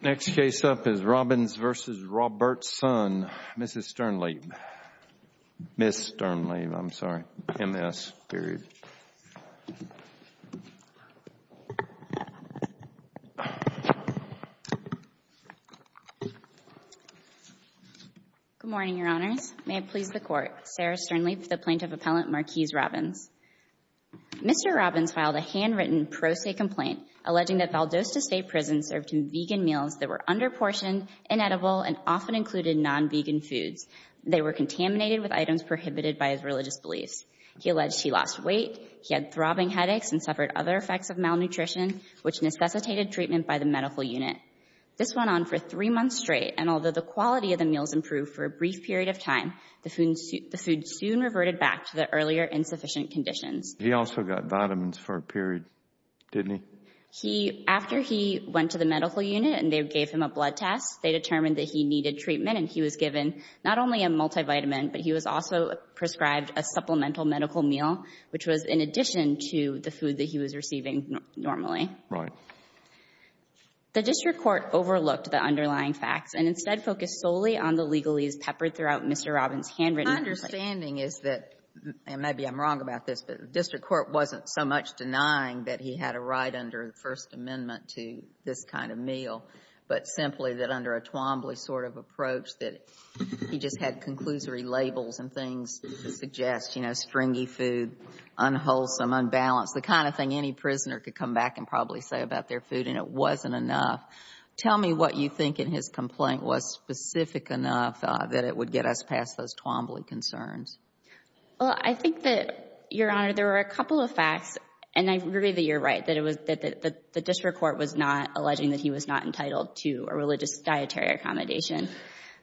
Next case up is Robbins v. Robertson, Mrs. Sternleib. Ms. Sternleib, I'm sorry, MS, period. Good morning, Your Honors. May it please the Court. Sarah Sternleib for the Plaintiff Appellant Marquise Robbins. Mr. Robbins filed a handwritten pro se complaint alleging that Valdosta State Prison served him vegan meals that were under-portioned, inedible, and often included non-vegan foods. They were contaminated with items prohibited by his religious beliefs. He alleged he lost weight, he had throbbing headaches, and suffered other effects of malnutrition, which necessitated treatment by the medical unit. This went on for three months straight, and although the quality of the meals improved for a brief period of time, the food soon reverted back to the earlier insufficient conditions. He also got vitamins for a period, didn't he? He — after he went to the medical unit and they gave him a blood test, they determined that he needed treatment, and he was given not only a multivitamin, but he was also prescribed a supplemental medical meal, which was in addition to the food that he was receiving normally. Right. The district court overlooked the underlying facts and instead focused solely on the legalese peppered throughout Mr. Robbins' handwritten complaint. My understanding is that, and maybe I'm wrong about this, but the district court wasn't so much denying that he had a right under the First Amendment to this kind of meal, but simply that under a Twombly sort of approach that he just had conclusory labels and things to suggest, you know, stringy food, unwholesome, unbalanced, the kind of thing any prisoner could come back and probably say about their food, and it wasn't enough. Tell me what you think in his complaint was specific enough that it would get us past those Twombly concerns. Well, I think that, Your Honor, there were a couple of facts, and I agree that you're right, that the district court was not alleging that he was not entitled to a religious dietary accommodation.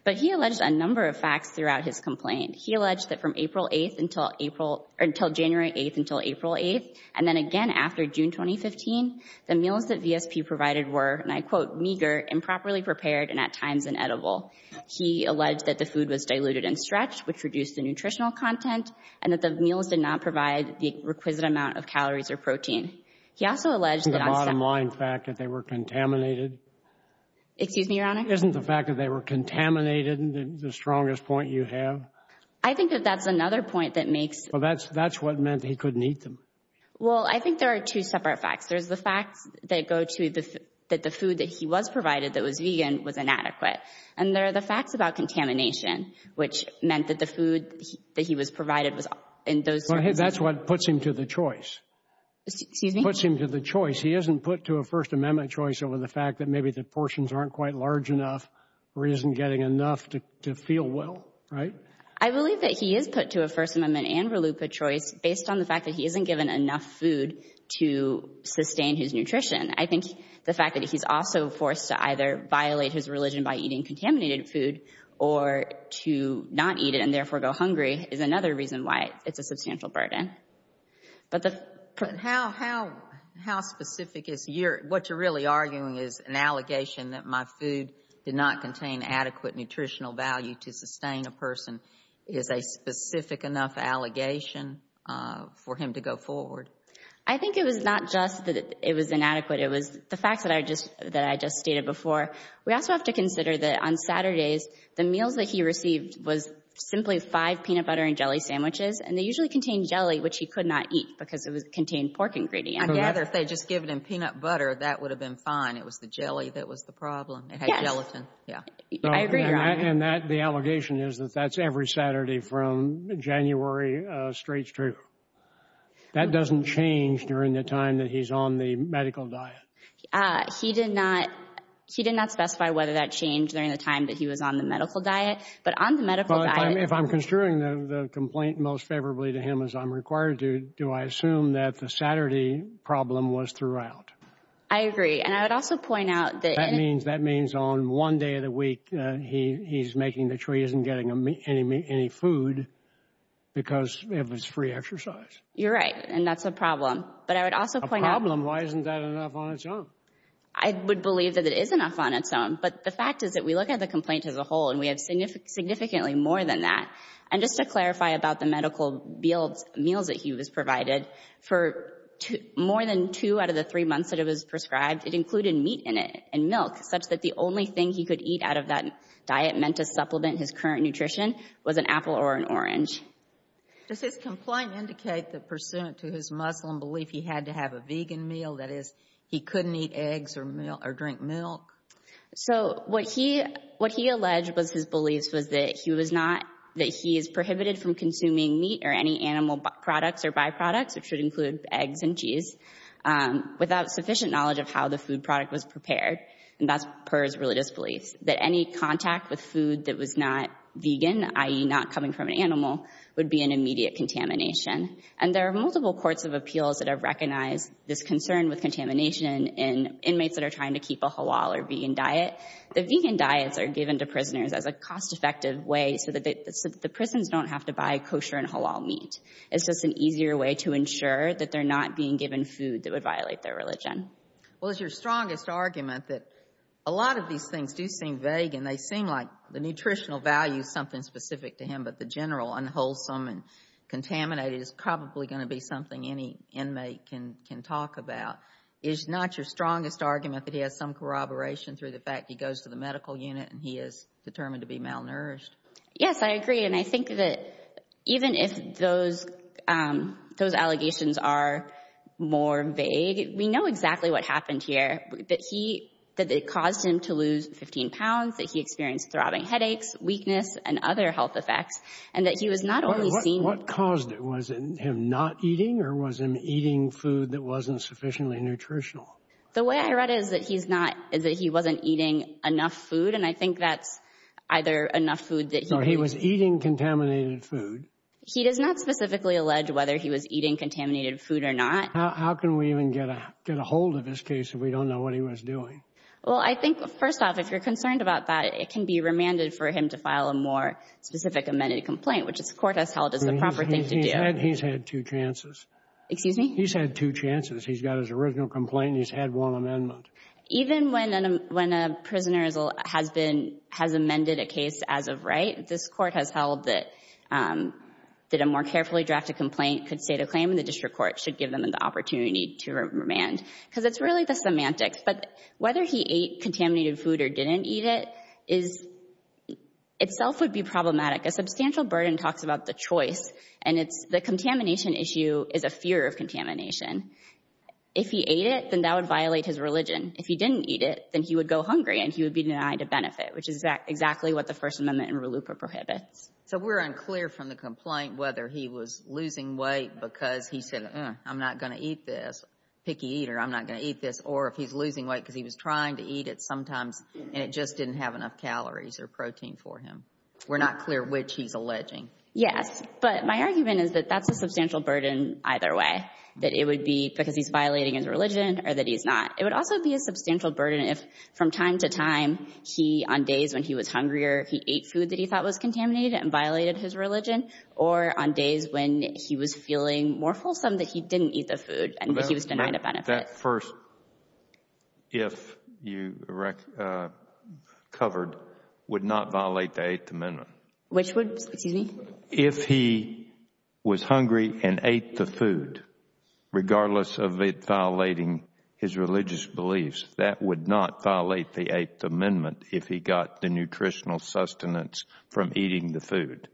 But he alleged a number of facts throughout his complaint. He alleged that from April 8th until April or until January 8th until April 8th, and then again after June 2015, the meals that VSP provided were, and I quote, meager, improperly prepared, and at times inedible. He alleged that the food was diluted and stretched, which reduced the nutritional content, and that the meals did not provide the requisite amount of calories or protein. He also alleged that on some — Isn't the bottom line fact that they were contaminated? Excuse me, Your Honor? Isn't the fact that they were contaminated the strongest point you have? I think that that's another point that makes — Well, that's what meant he couldn't eat them. Well, I think there are two separate facts. There's the facts that go to the — that the food that he was provided that was vegan was inadequate. And there are the facts about contamination, which meant that the food that he was provided was — That's what puts him to the choice. Excuse me? Puts him to the choice. He isn't put to a First Amendment choice over the fact that maybe the portions aren't quite large enough or he isn't getting enough to feel well, right? I believe that he is put to a First Amendment and RELUPA choice based on the fact that he isn't given enough food to sustain his nutrition. I think the fact that he's also forced to either violate his religion by eating contaminated food or to not eat it and therefore go hungry is another reason why it's a substantial burden. But the — How specific is your — what you're really arguing is an allegation that my food did not contain adequate nutritional value to sustain a person. Is a specific enough allegation for him to go forward? I think it was not just that it was inadequate. It was the facts that I just — that I just stated before. We also have to consider that on Saturdays, the meals that he received was simply five peanut butter and jelly sandwiches. And they usually contained jelly, which he could not eat because it contained pork ingredients. I gather if they had just given him peanut butter, that would have been fine. It was the jelly that was the problem. Yes. It had gelatin. Yeah. I agree. And that — the allegation is that that's every Saturday from January straight through. That doesn't change during the time that he's on the medical diet. He did not — he did not specify whether that changed during the time that he was on the medical diet. But on the medical diet — Well, if I'm construing the complaint most favorably to him as I'm required to, do I assume that the Saturday problem was throughout? I agree. And I would also point out that — That means — that means on one day of the week he's making the choice and getting any food because of his free exercise. You're right. And that's a problem. But I would also point out — A problem? Why isn't that enough on its own? I would believe that it is enough on its own. But the fact is that we look at the complaint as a whole, and we have significantly more than that. And just to clarify about the medical meals that he was provided, for more than two out of the three months that it was prescribed, it included meat in it and milk, such that the only thing he could eat out of that diet meant to supplement his current nutrition was an apple or an orange. Does his complaint indicate that pursuant to his Muslim belief, he had to have a vegan meal? That is, he couldn't eat eggs or milk — or drink milk? So what he — what he alleged was his beliefs was that he was not — that he is prohibited from consuming meat or any animal products or byproducts, which would include eggs and cheese, without sufficient knowledge of how the food product was prepared. And that's per his religious beliefs, that any contact with food that was not vegan, i.e. not coming from an animal, would be an immediate contamination. And there are multiple courts of appeals that have recognized this concern with contamination in inmates that are trying to keep a halal or vegan diet. The vegan diets are given to prisoners as a cost-effective way so that the prisons don't have to buy kosher and halal meat. It's just an easier way to ensure that they're not being given food that would violate their religion. Well, it's your strongest argument that a lot of these things do seem vague and they seem like the nutritional value is something specific to him, but the general unwholesome and contaminated is probably going to be something any inmate can talk about. Is not your strongest argument that he has some corroboration through the fact he goes to the medical unit and he is determined to be malnourished? Yes, I agree. And I think that even if those allegations are more vague, we know exactly what happened here, that he — that it caused him to lose 15 pounds, that he experienced throbbing headaches, weakness, and other health effects, and that he was not only seen — What caused it? Was it him not eating or was him eating food that wasn't sufficiently nutritional? The way I read it is that he's not — is that he wasn't eating enough food, and I think that's either enough food that he — No, he was eating contaminated food. He does not specifically allege whether he was eating contaminated food or not. How can we even get a hold of this case if we don't know what he was doing? Well, I think, first off, if you're concerned about that, it can be remanded for him to file a more specific amended complaint, which the court has held is the proper thing to do. He's had two chances. Excuse me? He's had two chances. He's got his original complaint and he's had one amendment. Even when a prisoner has been — has amended a case as of right, this court has held that a more carefully drafted complaint could state a claim, and the district court should give them the opportunity to remand, because it's really the semantics. But whether he ate contaminated food or didn't eat it is — itself would be problematic. A substantial burden talks about the choice, and it's — the contamination issue is a fear of contamination. If he ate it, then that would violate his religion. If he didn't eat it, then he would go hungry and he would be denied a benefit, which is exactly what the First Amendment and RELUPA prohibits. So we're unclear from the complaint whether he was losing weight because he said, uh, I'm not going to eat this, picky eater, I'm not going to eat this, or if he's losing weight because he was trying to eat it sometimes and it just didn't have enough calories or protein for him. We're not clear which he's alleging. Yes. But my argument is that that's a substantial burden either way, that it would be because he's violating his religion or that he's not. It would also be a substantial burden if, from time to time, he, on days when he was hungrier, he ate food that he thought was contaminated and violated his religion, or on days when he was feeling more wholesome that he didn't eat the food and that he was denied a benefit. That first, if you covered, would not violate the Eighth Amendment. Which would — excuse me? If he was hungry and ate the food, regardless of it violating his religious beliefs, that would not violate the Eighth Amendment if he got the nutritional sustenance from eating the food.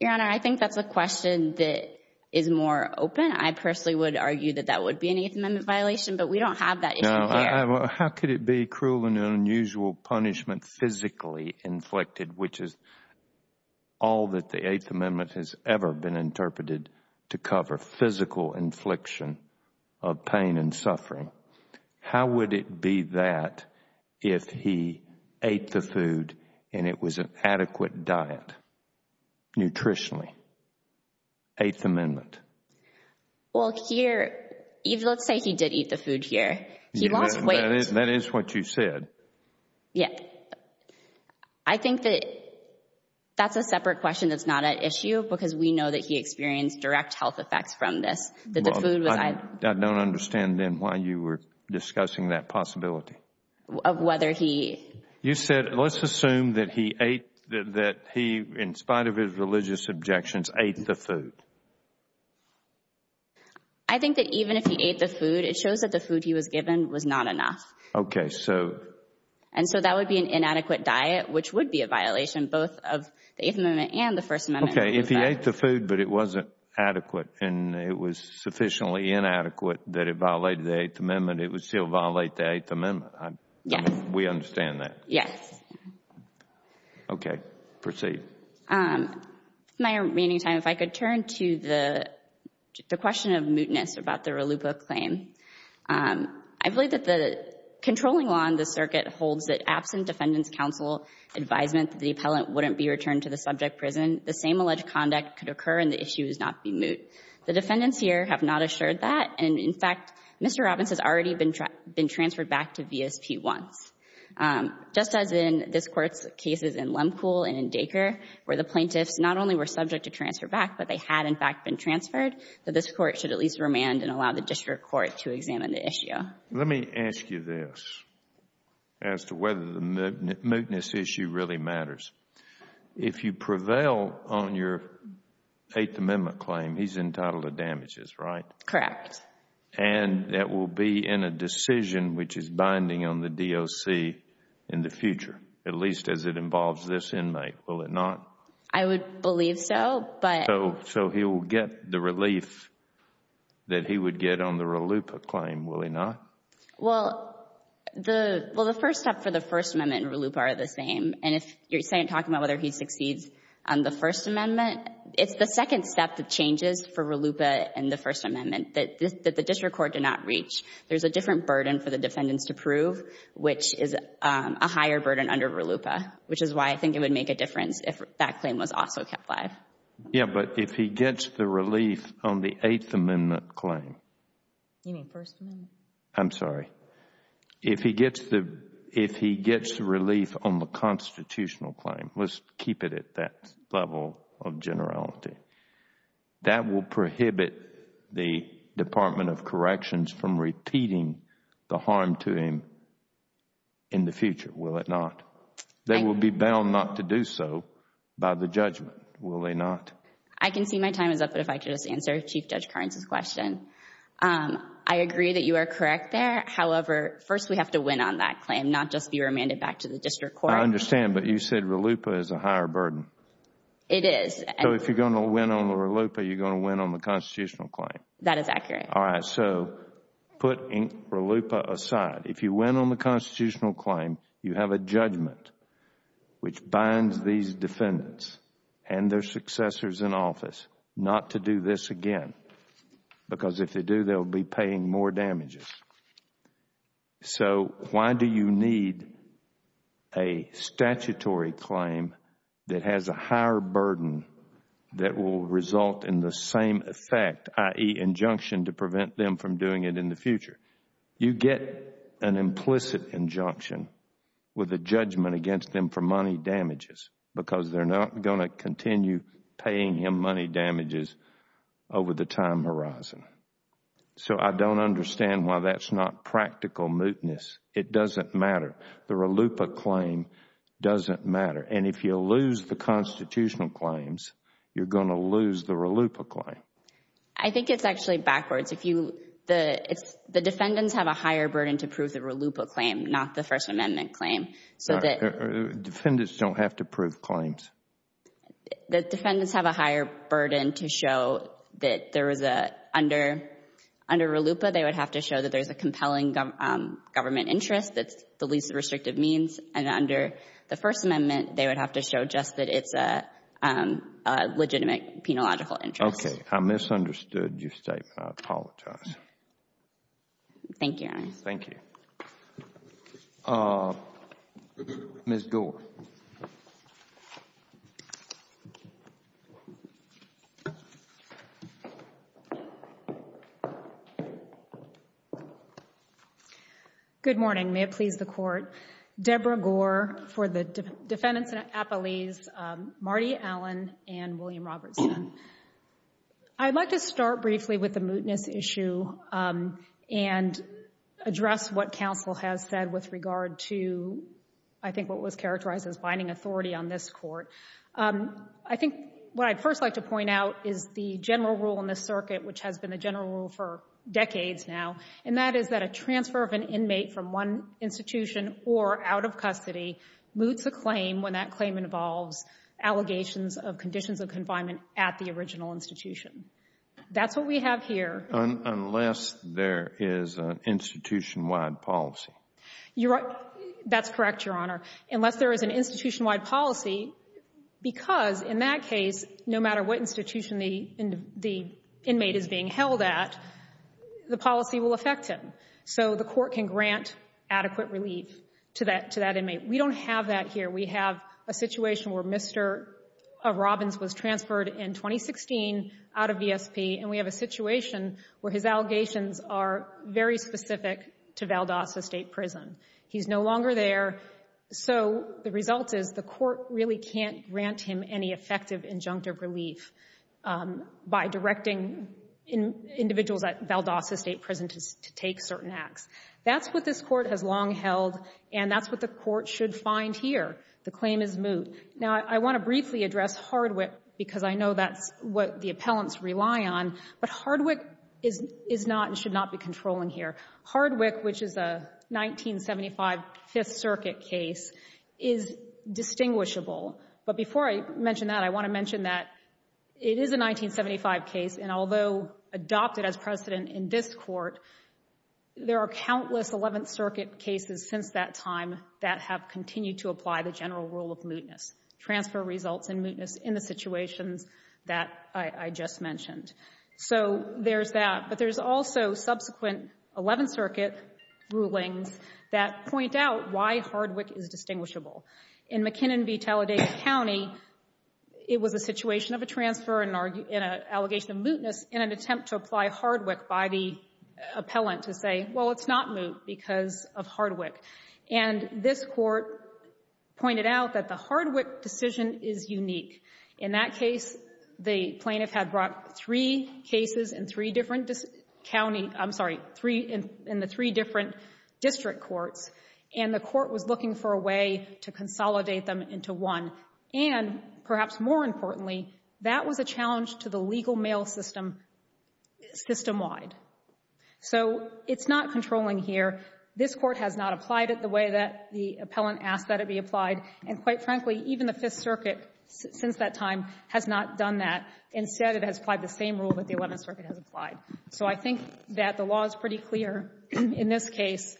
Your Honor, I think that's a question that is more open. I personally would argue that that would be an Eighth Amendment violation, but we don't have that issue there. How could it be cruel and unusual punishment physically inflicted, which is all that the Eighth Amendment has ever been interpreted to cover, physical infliction of pain and suffering? How would it be that if he ate the food and it was an adequate diet, nutritionally? Eighth Amendment. Well, here, let's say he did eat the food here. He lost weight. That is what you said. Yeah. I think that that's a separate question that's not at issue because we know that he experienced direct health effects from this, that the food was — I don't understand then why you were discussing that possibility. Of whether he — You said, let's assume that he ate, that he, in spite of his religious objections, ate the food. I think that even if he ate the food, it shows that the food he was given was not enough. Okay. So — And so that would be an inadequate diet, which would be a violation both of the Eighth Amendment and the First Amendment. Okay. If he ate the food but it wasn't adequate and it was sufficiently inadequate that it violated the Eighth Amendment, it would still violate the Eighth Amendment. Yes. We understand that. Yes. Okay. Proceed. My remaining time, if I could turn to the question of mootness about the Rallupa claim. I believe that the controlling law in this circuit holds that absent defendant's counsel advisement that the appellant wouldn't be returned to the subject prison, the same alleged conduct could occur and the issue would not be moot. The defendants here have not assured that. And, in fact, Mr. Robbins has already been transferred back to VSP once. Just as in this Court's cases in Lemcool and in Dacre, where the plaintiffs not only were subject to transfer back, but they had, in fact, been transferred, that this Court should at least remand and allow the district court to examine the issue. Let me ask you this as to whether the mootness issue really matters. If you prevail on your Eighth Amendment claim, he's entitled to damages, right? Correct. And that will be in a decision which is binding on the DOC in the future, at least as it involves this inmate, will it not? I would believe so. So he will get the relief that he would get on the Rallupa claim, will he not? Well, the first step for the First Amendment and Rallupa are the same. And if you're talking about whether he succeeds on the First Amendment, it's the district court did not reach. There's a different burden for the defendants to prove, which is a higher burden under Rallupa, which is why I think it would make a difference if that claim was also kept live. Yeah, but if he gets the relief on the Eighth Amendment claim... You mean First Amendment? I'm sorry. If he gets the relief on the constitutional claim, let's keep it at that level of generality, that will prohibit the Department of Corrections from repeating the harm to him in the future, will it not? They will be bound not to do so by the judgment, will they not? I can see my time is up, but if I could just answer Chief Judge Kearns' question. I agree that you are correct there. However, first we have to win on that claim, not just be remanded back to the district court. I understand, but you said Rallupa is a higher burden. It is. So if you are going to win on the Rallupa, you are going to win on the constitutional claim. That is accurate. All right. So put Rallupa aside. If you win on the constitutional claim, you have a judgment which binds these defendants and their successors in office not to do this again because if they do, they will be paying more damages. So why do you need a statutory claim that has a higher burden that will result in the same effect, i.e., injunction to prevent them from doing it in the future? You get an implicit injunction with a judgment against them for money damages because they are not going to continue paying him money damages over the time horizon. So I don't understand why that is not practical mootness. It doesn't matter. The Rallupa claim doesn't matter. And if you lose the constitutional claims, you are going to lose the Rallupa claim. I think it is actually backwards. The defendants have a higher burden to prove the Rallupa claim, not the First Amendment claim. Defendants don't have to prove claims. The defendants have a higher burden to show that there is a under Rallupa, they would have to show that there is a compelling government interest that's the least restrictive means. And under the First Amendment, they would have to show just that it's a legitimate penological interest. Okay. I misunderstood your statement. I apologize. Thank you, Your Honor. Thank you. Ms. Gore. Good morning. May it please the Court. Debra Gore for the defendants in Appalese. Marty Allen and William Robertson. I'd like to start briefly with the mootness issue and address what counsel has said with regard to I think what was characterized as binding authority on this court. I think what I'd first like to point out is the general rule in this circuit, which has been the general rule for decades now, and that is that a transfer of an inmate from one institution or out of custody moots a claim when that claim involves allegations of conditions of confinement at the original institution. That's what we have here. Unless there is an institution-wide policy. That's correct, Your Honor. Unless there is an institution-wide policy, because in that case, no matter what institution the inmate is being held at, the policy will affect him. So the court can grant adequate relief to that inmate. We don't have that here. We have a situation where Mr. Robbins was transferred in 2016 out of VSP, and we have a situation where his allegations are very specific to Valdosta State Prison. He's no longer there. So the result is the court really can't grant him any effective injunctive relief by directing individuals at Valdosta State Prison to take certain acts. That's what this court has long held, and that's what the court should find here. The claim is moot. Now, I want to briefly address Hardwick, because I know that's what the appellants rely on, but Hardwick is not and should not be controlling here. Hardwick, which is a 1975 Fifth Circuit case, is distinguishable. But before I mention that, I want to mention that it is a 1975 case, and although adopted as precedent in this court, there are countless Eleventh Circuit cases since that time that have continued to apply the general rule of mootness, transfer results and mootness in the situations that I just mentioned. So there's that, but there's also subsequent Eleventh Circuit rulings that point out why Hardwick is distinguishable. In McKinnon v. Talladega County, it was a situation of a transfer and an allegation of mootness in an attempt to apply Hardwick by the appellant to say, well, it's not moot because of Hardwick. And this court pointed out that the Hardwick decision is unique. In that case, the plaintiff had brought three cases in three different county — I'm sorry, in the three different district courts, and the court was looking for a way to consolidate them into one. And perhaps more importantly, that was a challenge to the legal mail system, system-wide. So it's not controlling here. This court has not applied it the way that the appellant asked that it be applied, and quite frankly, even the Fifth Circuit since that time has not done that. Instead, it has applied the same rule that the Eleventh Circuit has applied. So I think that the law is pretty clear in this case.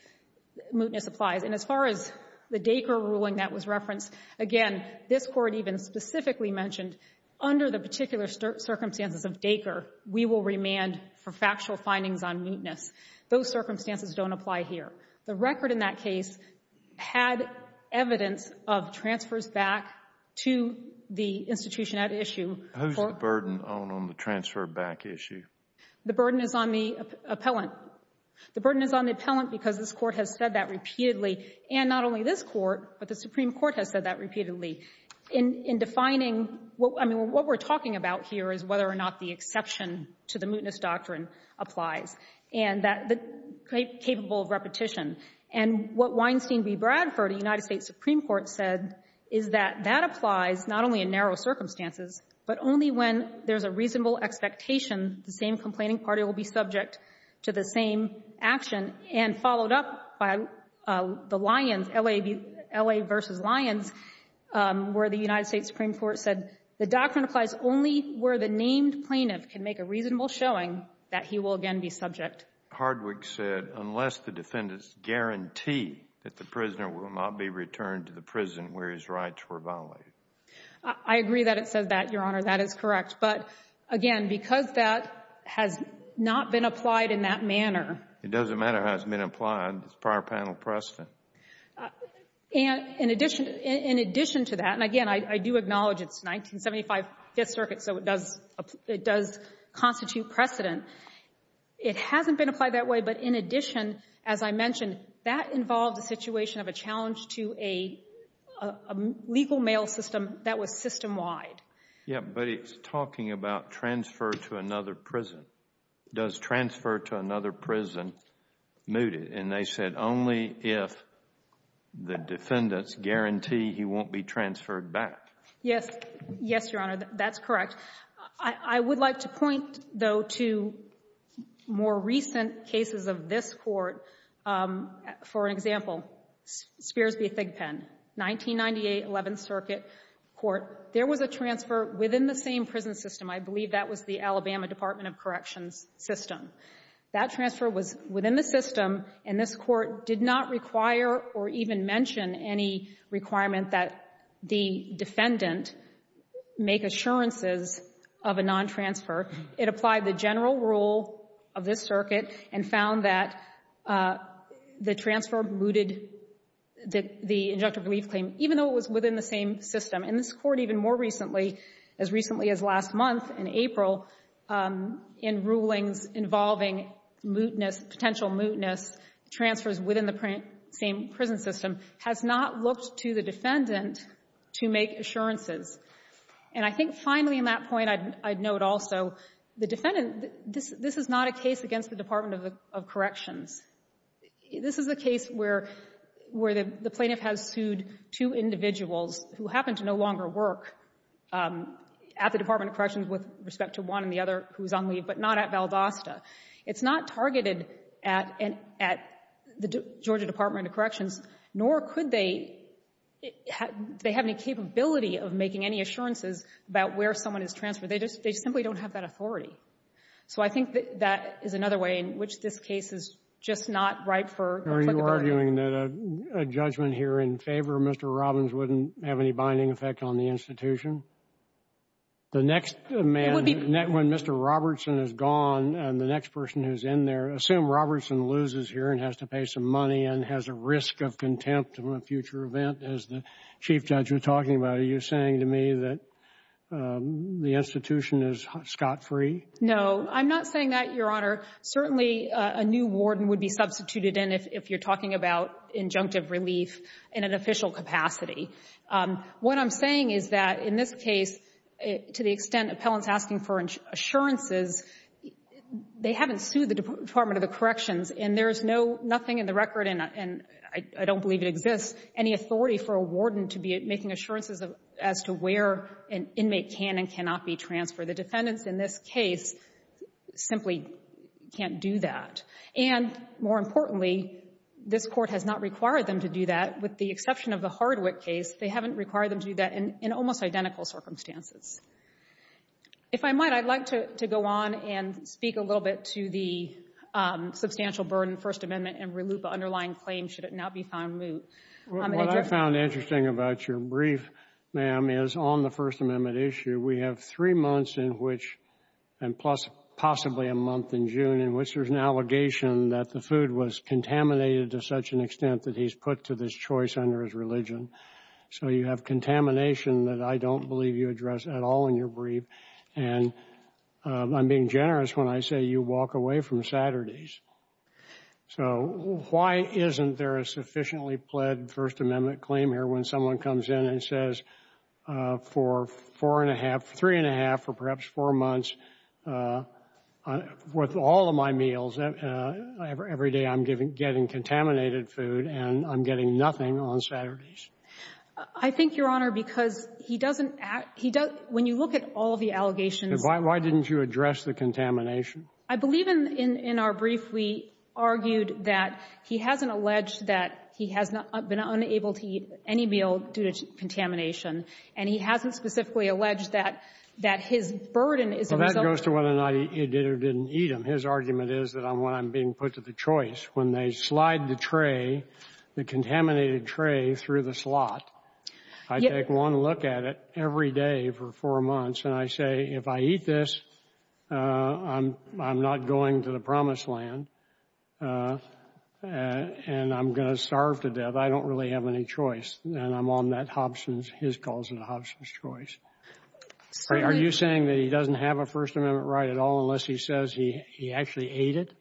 Mootness applies. And as far as the Dacre ruling that was referenced, again, this court even specifically mentioned, under the particular circumstances of Dacre, we will remand for factual findings on mootness. Those circumstances don't apply here. The record in that case had evidence of transfers back to the institution at issue. Who's the burden on the transfer back issue? The burden is on the appellant. The burden is on the appellant because this court has said that repeatedly, and not only this court, but the Supreme Court has said that repeatedly. In defining what we're talking about here is whether or not the exception to the mootness doctrine applies and that it's capable of repetition. And what Weinstein v. Bradford, a United States Supreme Court, said is that that applies not only in narrow circumstances, but only when there's a reasonable expectation the same complaining party will be subject to the same action. And followed up by the Lions, L.A. v. Lions, where the United States Supreme Court said the doctrine applies only where the named plaintiff can make a reasonable showing that he will again be subject. Hardwick said unless the defendants guarantee that the prisoner will not be returned to the prison where his rights were violated. I agree that it says that, Your Honor. That is correct. But again, because that has not been applied in that manner. It doesn't matter how it's been applied. It's prior panel precedent. And in addition to that, and again, I do acknowledge it's 1975 Fifth Circuit, so it does constitute precedent. It hasn't been applied that way, but in addition, as I mentioned, that involved a situation of a challenge to a legal mail system that was system wide. Yeah, but it's talking about transfer to another prison. Does transfer to another prison moot it? And they said only if the defendants guarantee he won't be transferred back. Yes. Yes, Your Honor. That's correct. I would like to point, though, to more recent cases of this court. For example, Spears v. Thigpen, 1998 Eleventh Circuit Court. There was a transfer within the same prison system. I believe that was the Alabama Department of Corrections system. That transfer was within the system, and this court did not require or even mention any requirement that the defendant make assurances of a non-transfer. It applied the general rule of this circuit and found that the transfer mooted the injunctive relief claim, even though it was within the same system. And this court even more recently, as recently as last month in April, in rulings involving mootness, potential mootness, transfers within the same prison system, has not looked to the defendant to make assurances. And I think finally in that point I'd note also the defendant, this is not a case against the Department of Corrections. This is a case where the plaintiff has sued two individuals who happen to no longer work at the Department of Corrections with respect to one and the other who is on leave, but not at Valdosta. It's not targeted at the Georgia Department of Corrections, nor could they have any capability of making any assurances about where someone is transferred. They just simply don't have that authority. So I think that is another way in which this case is just not ripe for applicability. Are you arguing that a judgment here in favor of Mr. Robbins wouldn't have any binding effect on the institution? The next man, when Mr. Robertson is gone and the next person who's in there, assume Robertson loses here and has to pay some money and has a risk of contempt in a future event, as the Chief Judge was talking about. Are you saying to me that the institution is scot-free? No, I'm not saying that, Your Honor. Certainly a new warden would be substituted in if you're talking about injunctive relief in an official capacity. What I'm saying is that in this case, to the extent appellants asking for assurances, they haven't sued the Department of Corrections, and there is nothing in the record, and I don't believe it exists, any authority for a warden to be making assurances as to where an inmate can and cannot be transferred. The defendants in this case simply can't do that. And more importantly, this Court has not required them to do that. With the exception of the Hardwick case, they haven't required them to do that in almost identical circumstances. If I might, I'd like to go on and speak a little bit to the substantial burden First Amendment and RILUPA underlying claims should it not be found moot. What I found interesting about your brief, ma'am, is on the First Amendment issue, we have three months in which, and possibly a month in June, in which there's an allegation that the food was contaminated to such an extent that he's put to this choice under his religion. So you have contamination that I don't believe you address at all in your brief. And I'm being generous when I say you walk away from Saturdays. So why isn't there a sufficiently pled First Amendment claim here when someone comes in and says for four and a half, three and a half, or perhaps four months, with all of my meals, every day I'm getting contaminated food and I'm getting nothing on Saturdays? I think, Your Honor, because he doesn't act — when you look at all of the allegations — Why didn't you address the contamination? I believe in our brief we argued that he hasn't alleged that he has been unable to eat any meal due to contamination, and he hasn't specifically alleged that his burden is a result of — Well, that goes to whether or not he did or didn't eat them. His argument is that when I'm being put to the choice, when they slide the tray, the contaminated tray, through the slot, I take one look at it every day for four months, and I say, if I eat this, I'm not going to the promised land, and I'm going to starve to death. I don't really have any choice. And I'm on that Hobson's — his cause and Hobson's choice. Are you saying that he doesn't have a First Amendment right at all unless he says he actually ate it?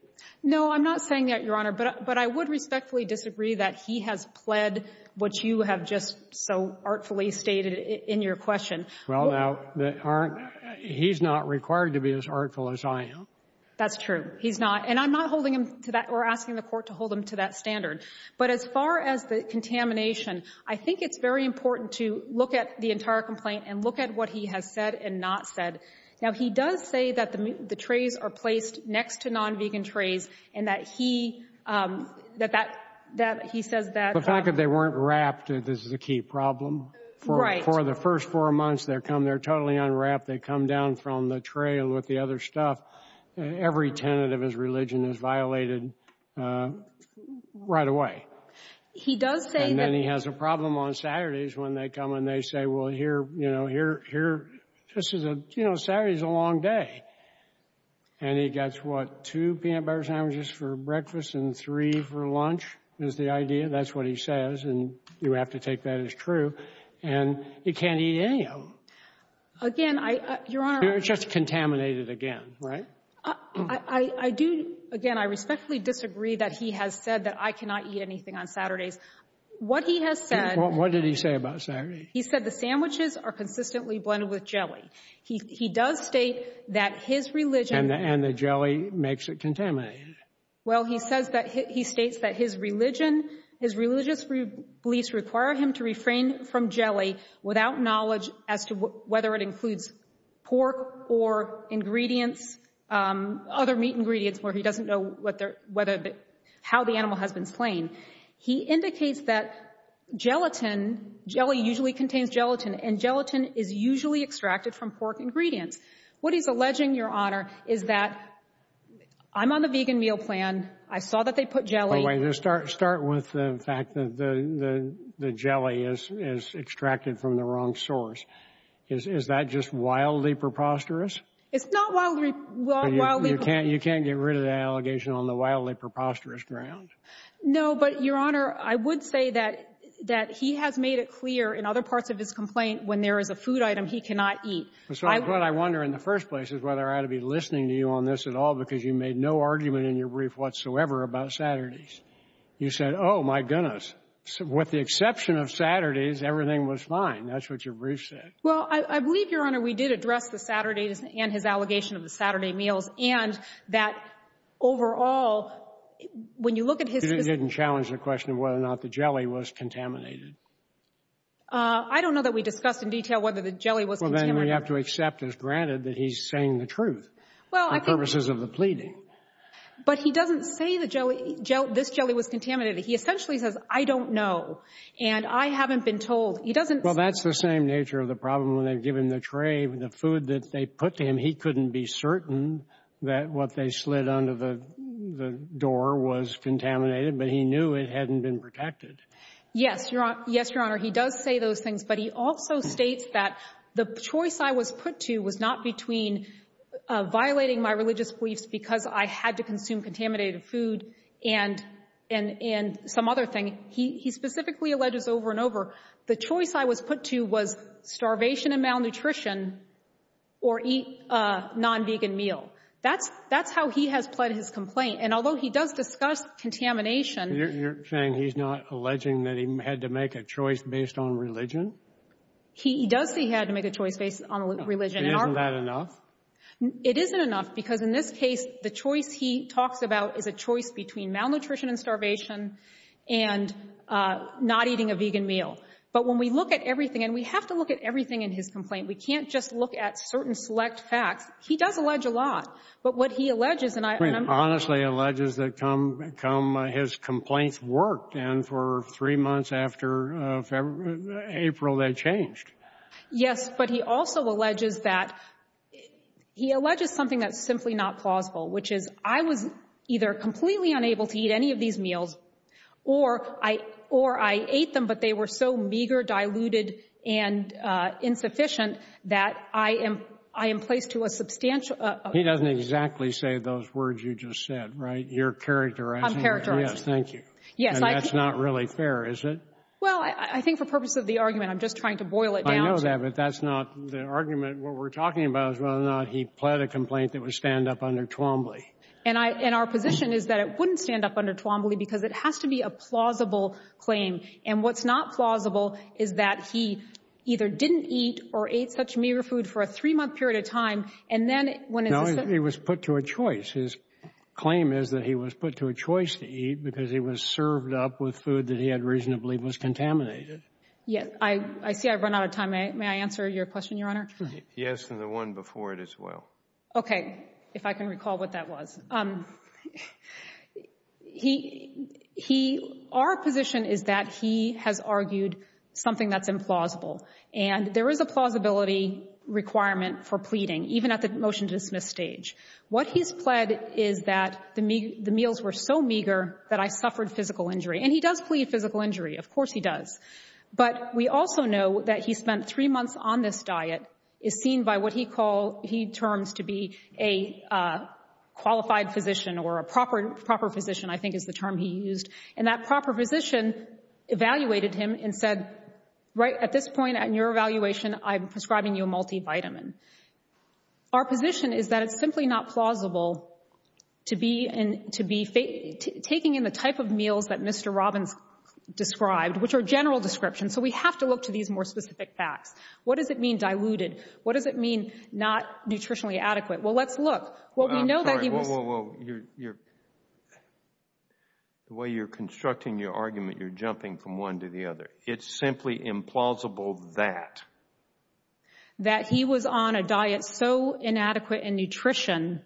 No, I'm not saying that, Your Honor. But I would respectfully disagree that he has pled what you have just so artfully stated in your question. Well, now, aren't — he's not required to be as artful as I am. That's true. He's not. And I'm not holding him to that or asking the court to hold him to that standard. But as far as the contamination, I think it's very important to look at the entire complaint and look at what he has said and not said. Now, he does say that the trays are placed next to non-vegan trays and that he — that he says that — The fact that they weren't wrapped is the key problem. Right. For the first four months, they're totally unwrapped. They come down from the tray and with the other stuff. Every tenet of his religion is violated right away. He does say that — And then he has a problem on Saturdays when they come and they say, well, here — you know, here — here — this is a — you know, Saturday's a long day. And he gets, what, two peanut butter sandwiches for breakfast and three for lunch is the idea. That's what he says. And you have to take that as true. And he can't eat any of them. Again, I — Your Honor — It's just contaminated again, right? I do — again, I respectfully disagree that he has said that I cannot eat anything on Saturdays. What he has said — What did he say about Saturday? He said the sandwiches are consistently blended with jelly. He does state that his religion — And the jelly makes it contaminated. Well, he says that — he states that his religion — his religious beliefs require him to refrain from jelly without knowledge as to whether it includes pork or ingredients, other meat ingredients, where he doesn't know whether — how the animal has been slain. He indicates that gelatin — jelly usually contains gelatin, and gelatin is usually extracted from pork ingredients. What he's alleging, Your Honor, is that — I'm on the vegan meal plan. I saw that they put jelly — Is that just wildly preposterous? It's not wildly — You can't — you can't get rid of the allegation on the wildly preposterous ground? No, but, Your Honor, I would say that — that he has made it clear in other parts of his complaint when there is a food item he cannot eat. That's what I wonder in the first place, is whether I ought to be listening to you on this at all, because you made no argument in your brief whatsoever about Saturdays. You said, oh, my goodness, with the exception of Saturdays, everything was fine. That's what your brief said. Well, I believe, Your Honor, we did address the Saturdays and his allegation of the Saturday meals, and that overall, when you look at his — You didn't challenge the question of whether or not the jelly was contaminated. I don't know that we discussed in detail whether the jelly was contaminated. Well, then we have to accept as granted that he's saying the truth. Well, I — For purposes of the pleading. But he doesn't say the jelly — this jelly was contaminated. He essentially says, I don't know, and I haven't been told. He doesn't — Well, that's the same nature of the problem when they give him the tray, the food that they put to him. He couldn't be certain that what they slid under the door was contaminated, but he knew it hadn't been protected. Yes, Your Honor. He does say those things, but he also states that the choice I was put to was not between violating my religious beliefs because I had to consume contaminated food and some other thing. He specifically alleges over and over, the choice I was put to was starvation and malnutrition or eat a non-vegan meal. That's how he has pled his complaint. And although he does discuss contamination — You're saying he's not alleging that he had to make a choice based on religion? He does say he had to make a choice based on religion. Isn't that enough? It isn't enough because, in this case, the choice he talks about is a choice between malnutrition and starvation and not eating a vegan meal. But when we look at everything, and we have to look at everything in his complaint, we can't just look at certain select facts. He does allege a lot. But what he alleges, and I'm — He honestly alleges that come his complaints worked, and for three months after April, they changed. Yes, but he also alleges that — he alleges something that's simply not plausible, which is I was either completely unable to eat any of these meals, or I ate them, but they were so meager, diluted, and insufficient that I am placed to a substantial — He doesn't exactly say those words you just said, right? You're characterizing it. I'm characterizing it. Yes, thank you. Yes, I — And that's not really fair, is it? Well, I think for purpose of the argument, I'm just trying to boil it down to — I know that, but that's not the argument. What we're talking about is whether or not he pled a complaint that would stand up under Twombly. And I — and our position is that it wouldn't stand up under Twombly because it has to be a plausible claim. And what's not plausible is that he either didn't eat or ate such meager food for a three-month period of time, and then when it's a — No, he was put to a choice. His claim is that he was put to a choice to eat because he was served up with food that he had reasonably was contaminated. Yes. I see I've run out of time. May I answer your question, Your Honor? Yes, and the one before it as well. Okay. If I can recall what that was. He — our position is that he has argued something that's implausible. And there is a plausibility requirement for pleading, even at the motion-to-dismiss stage. What he's pled is that the meals were so meager that I suffered physical injury. And he does plead physical injury. Of course he does. But we also know that he spent three months on this diet is seen by what he calls — he terms to be a qualified physician or a proper physician, I think is the term he used. And that proper physician evaluated him and said, right at this point in your evaluation, I'm prescribing you a multivitamin. Our position is that it's simply not plausible to be — taking in the type of meals that Mr. Robbins described, which are general descriptions, so we have to look to these more specific facts. What does it mean diluted? What does it mean not nutritionally adequate? Well, let's look. What we know that he was — Well, you're — the way you're constructing your argument, you're jumping from one to the other. It's simply implausible that. That he was on a diet so inadequate in nutrition,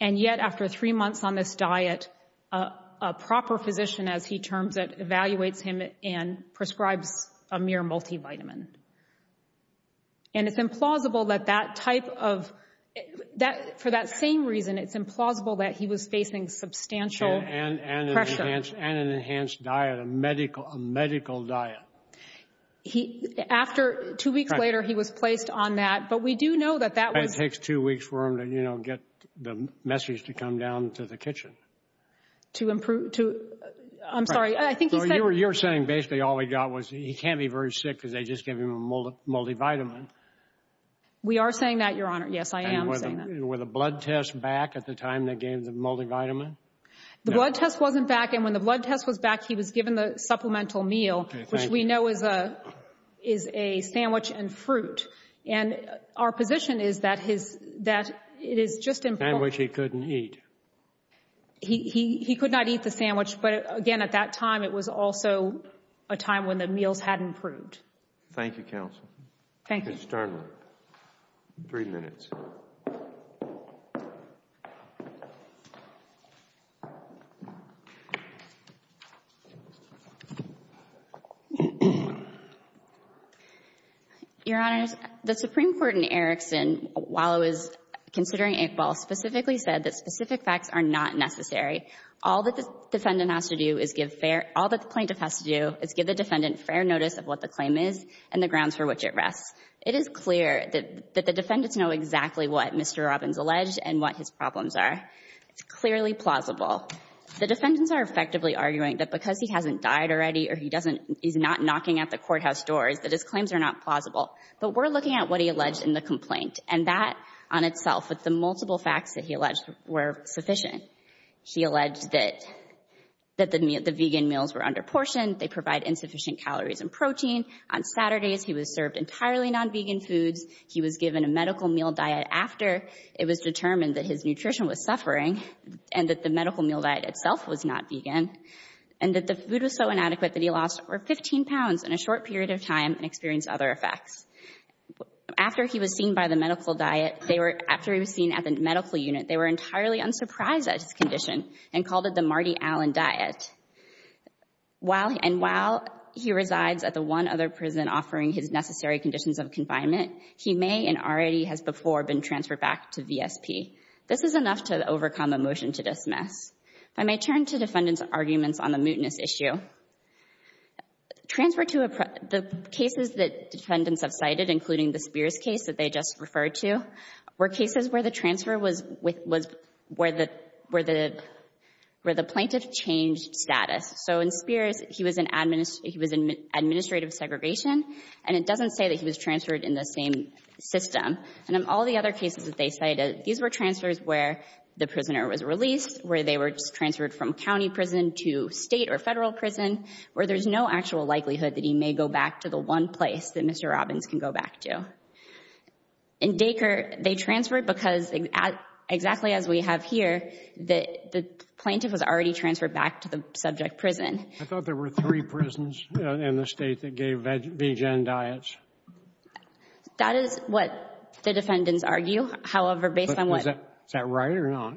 and yet after three months on this diet, a proper physician, as he terms it, evaluates him and prescribes a mere multivitamin. And it's implausible that that type of — for that same reason, it's implausible that he was facing substantial pressure. And an enhanced diet, a medical diet. After two weeks later, he was placed on that. But we do know that that was — that was the message to come down to the kitchen. To improve — to — I'm sorry. I think you said — So you're saying basically all he got was he can't be very sick because they just gave him a multivitamin. We are saying that, Your Honor. Yes, I am saying that. And were the blood tests back at the time they gave the multivitamin? The blood test wasn't back. And when the blood test was back, he was given the supplemental meal, which we know is a sandwich and fruit. And our position is that his — that it is just — A sandwich he couldn't eat. He could not eat the sandwich. But, again, at that time, it was also a time when the meals hadn't proved. Thank you, counsel. Thank you. Mr. Sterling. Three minutes. Your Honors, the Supreme Court in Erickson, while it was considering Iqbal, specifically said that specific facts are not necessary. All that the defendant has to do is give fair — all that the plaintiff has to do is give the defendant fair notice of what the claim is and the grounds for which it rests. but the plaintiff does not. Mr. Robbins alleged and what his problems are. It's clearly plausible. The defendants are effectively arguing that because he hasn't died already or he doesn't — he's not knocking at the courthouse doors, that his claims are not plausible. But we're looking at what he alleged in the complaint, and that on itself, with the multiple facts that he alleged were sufficient. He alleged that — that the vegan meals were under-portioned, they provide insufficient calories and protein. On Saturdays, he was served entirely non-vegan foods. He was given a medical meal diet after it was determined that his nutrition was suffering and that the medical meal diet itself was not vegan, and that the food was so inadequate that he lost over 15 pounds in a short period of time and experienced other effects. After he was seen by the medical diet, they were — after he was seen at the medical unit, they were entirely unsurprised at his condition and called it the Marty Allen diet. While — and while he resides at the one other prison offering his necessary conditions of confinement, he may and already has before been transferred back to VSP. This is enough to overcome a motion to dismiss. If I may turn to defendants' arguments on the mootness issue. Transfer to a — the cases that defendants have cited, including the Spears case that they just referred to, were cases where the transfer was — was — where the — where the — where the plaintiff changed status. So in Spears, he was in admin — he was in administrative segregation, and it doesn't say that he was transferred in the same system. And in all the other cases that they cited, these were transfers where the prisoner was released, where they were just transferred from county prison to state or federal prison, where there's no actual likelihood that he may go back to the one place that Mr. Robbins can go back to. In Dacre, they transferred because, exactly as we have here, the — the plaintiff was already transferred back to the subject prison. I thought there were three prisons in the state that gave vegan diets. That is what the defendants argue. However, based on what — Is that — is that right or not?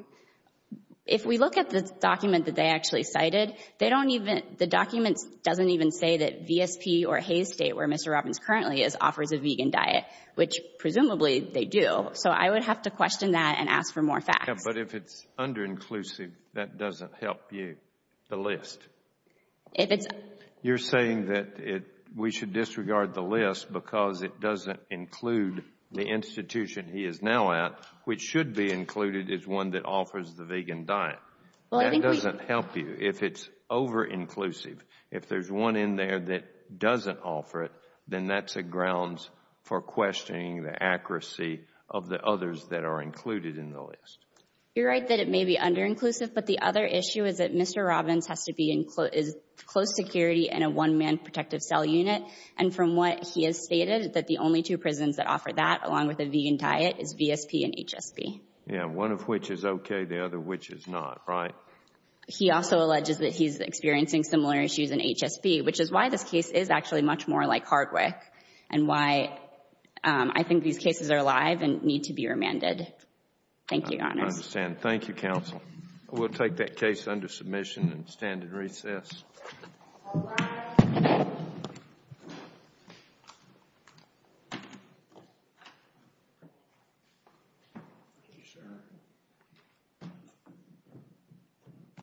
If we look at the document that they actually cited, they don't even — the document doesn't even say that VSP or Hayes State, where Mr. Robbins currently is, offers a vegan diet, which, presumably, they do. So I would have to question that and ask for more facts. Yeah, but if it's underinclusive, that doesn't help you. The list. If it's — You're saying that it — we should disregard the list because it doesn't include the institution he is now at, which should be included as one that offers the vegan diet. Well, I think we — That doesn't help you. If it's overinclusive, if there's one in there that doesn't offer it, then that's a grounds for questioning the accuracy of the others that are included in the list. You're right that it may be underinclusive, but the other issue is that Mr. Robbins has to be in close security in a one-man protective cell unit. And from what he has stated, that the only two prisons that offer that, along with a vegan diet, is VSP and HSP. Yeah, one of which is okay, the other which is not, right? He also alleges that he's experiencing similar issues in HSP, which is why this case is actually much more like Hardwick, and why I think these cases are alive and need to be remanded. Thank you, Your Honor. I understand. Thank you, counsel. We'll take that case under submission and stand in recess. All rise.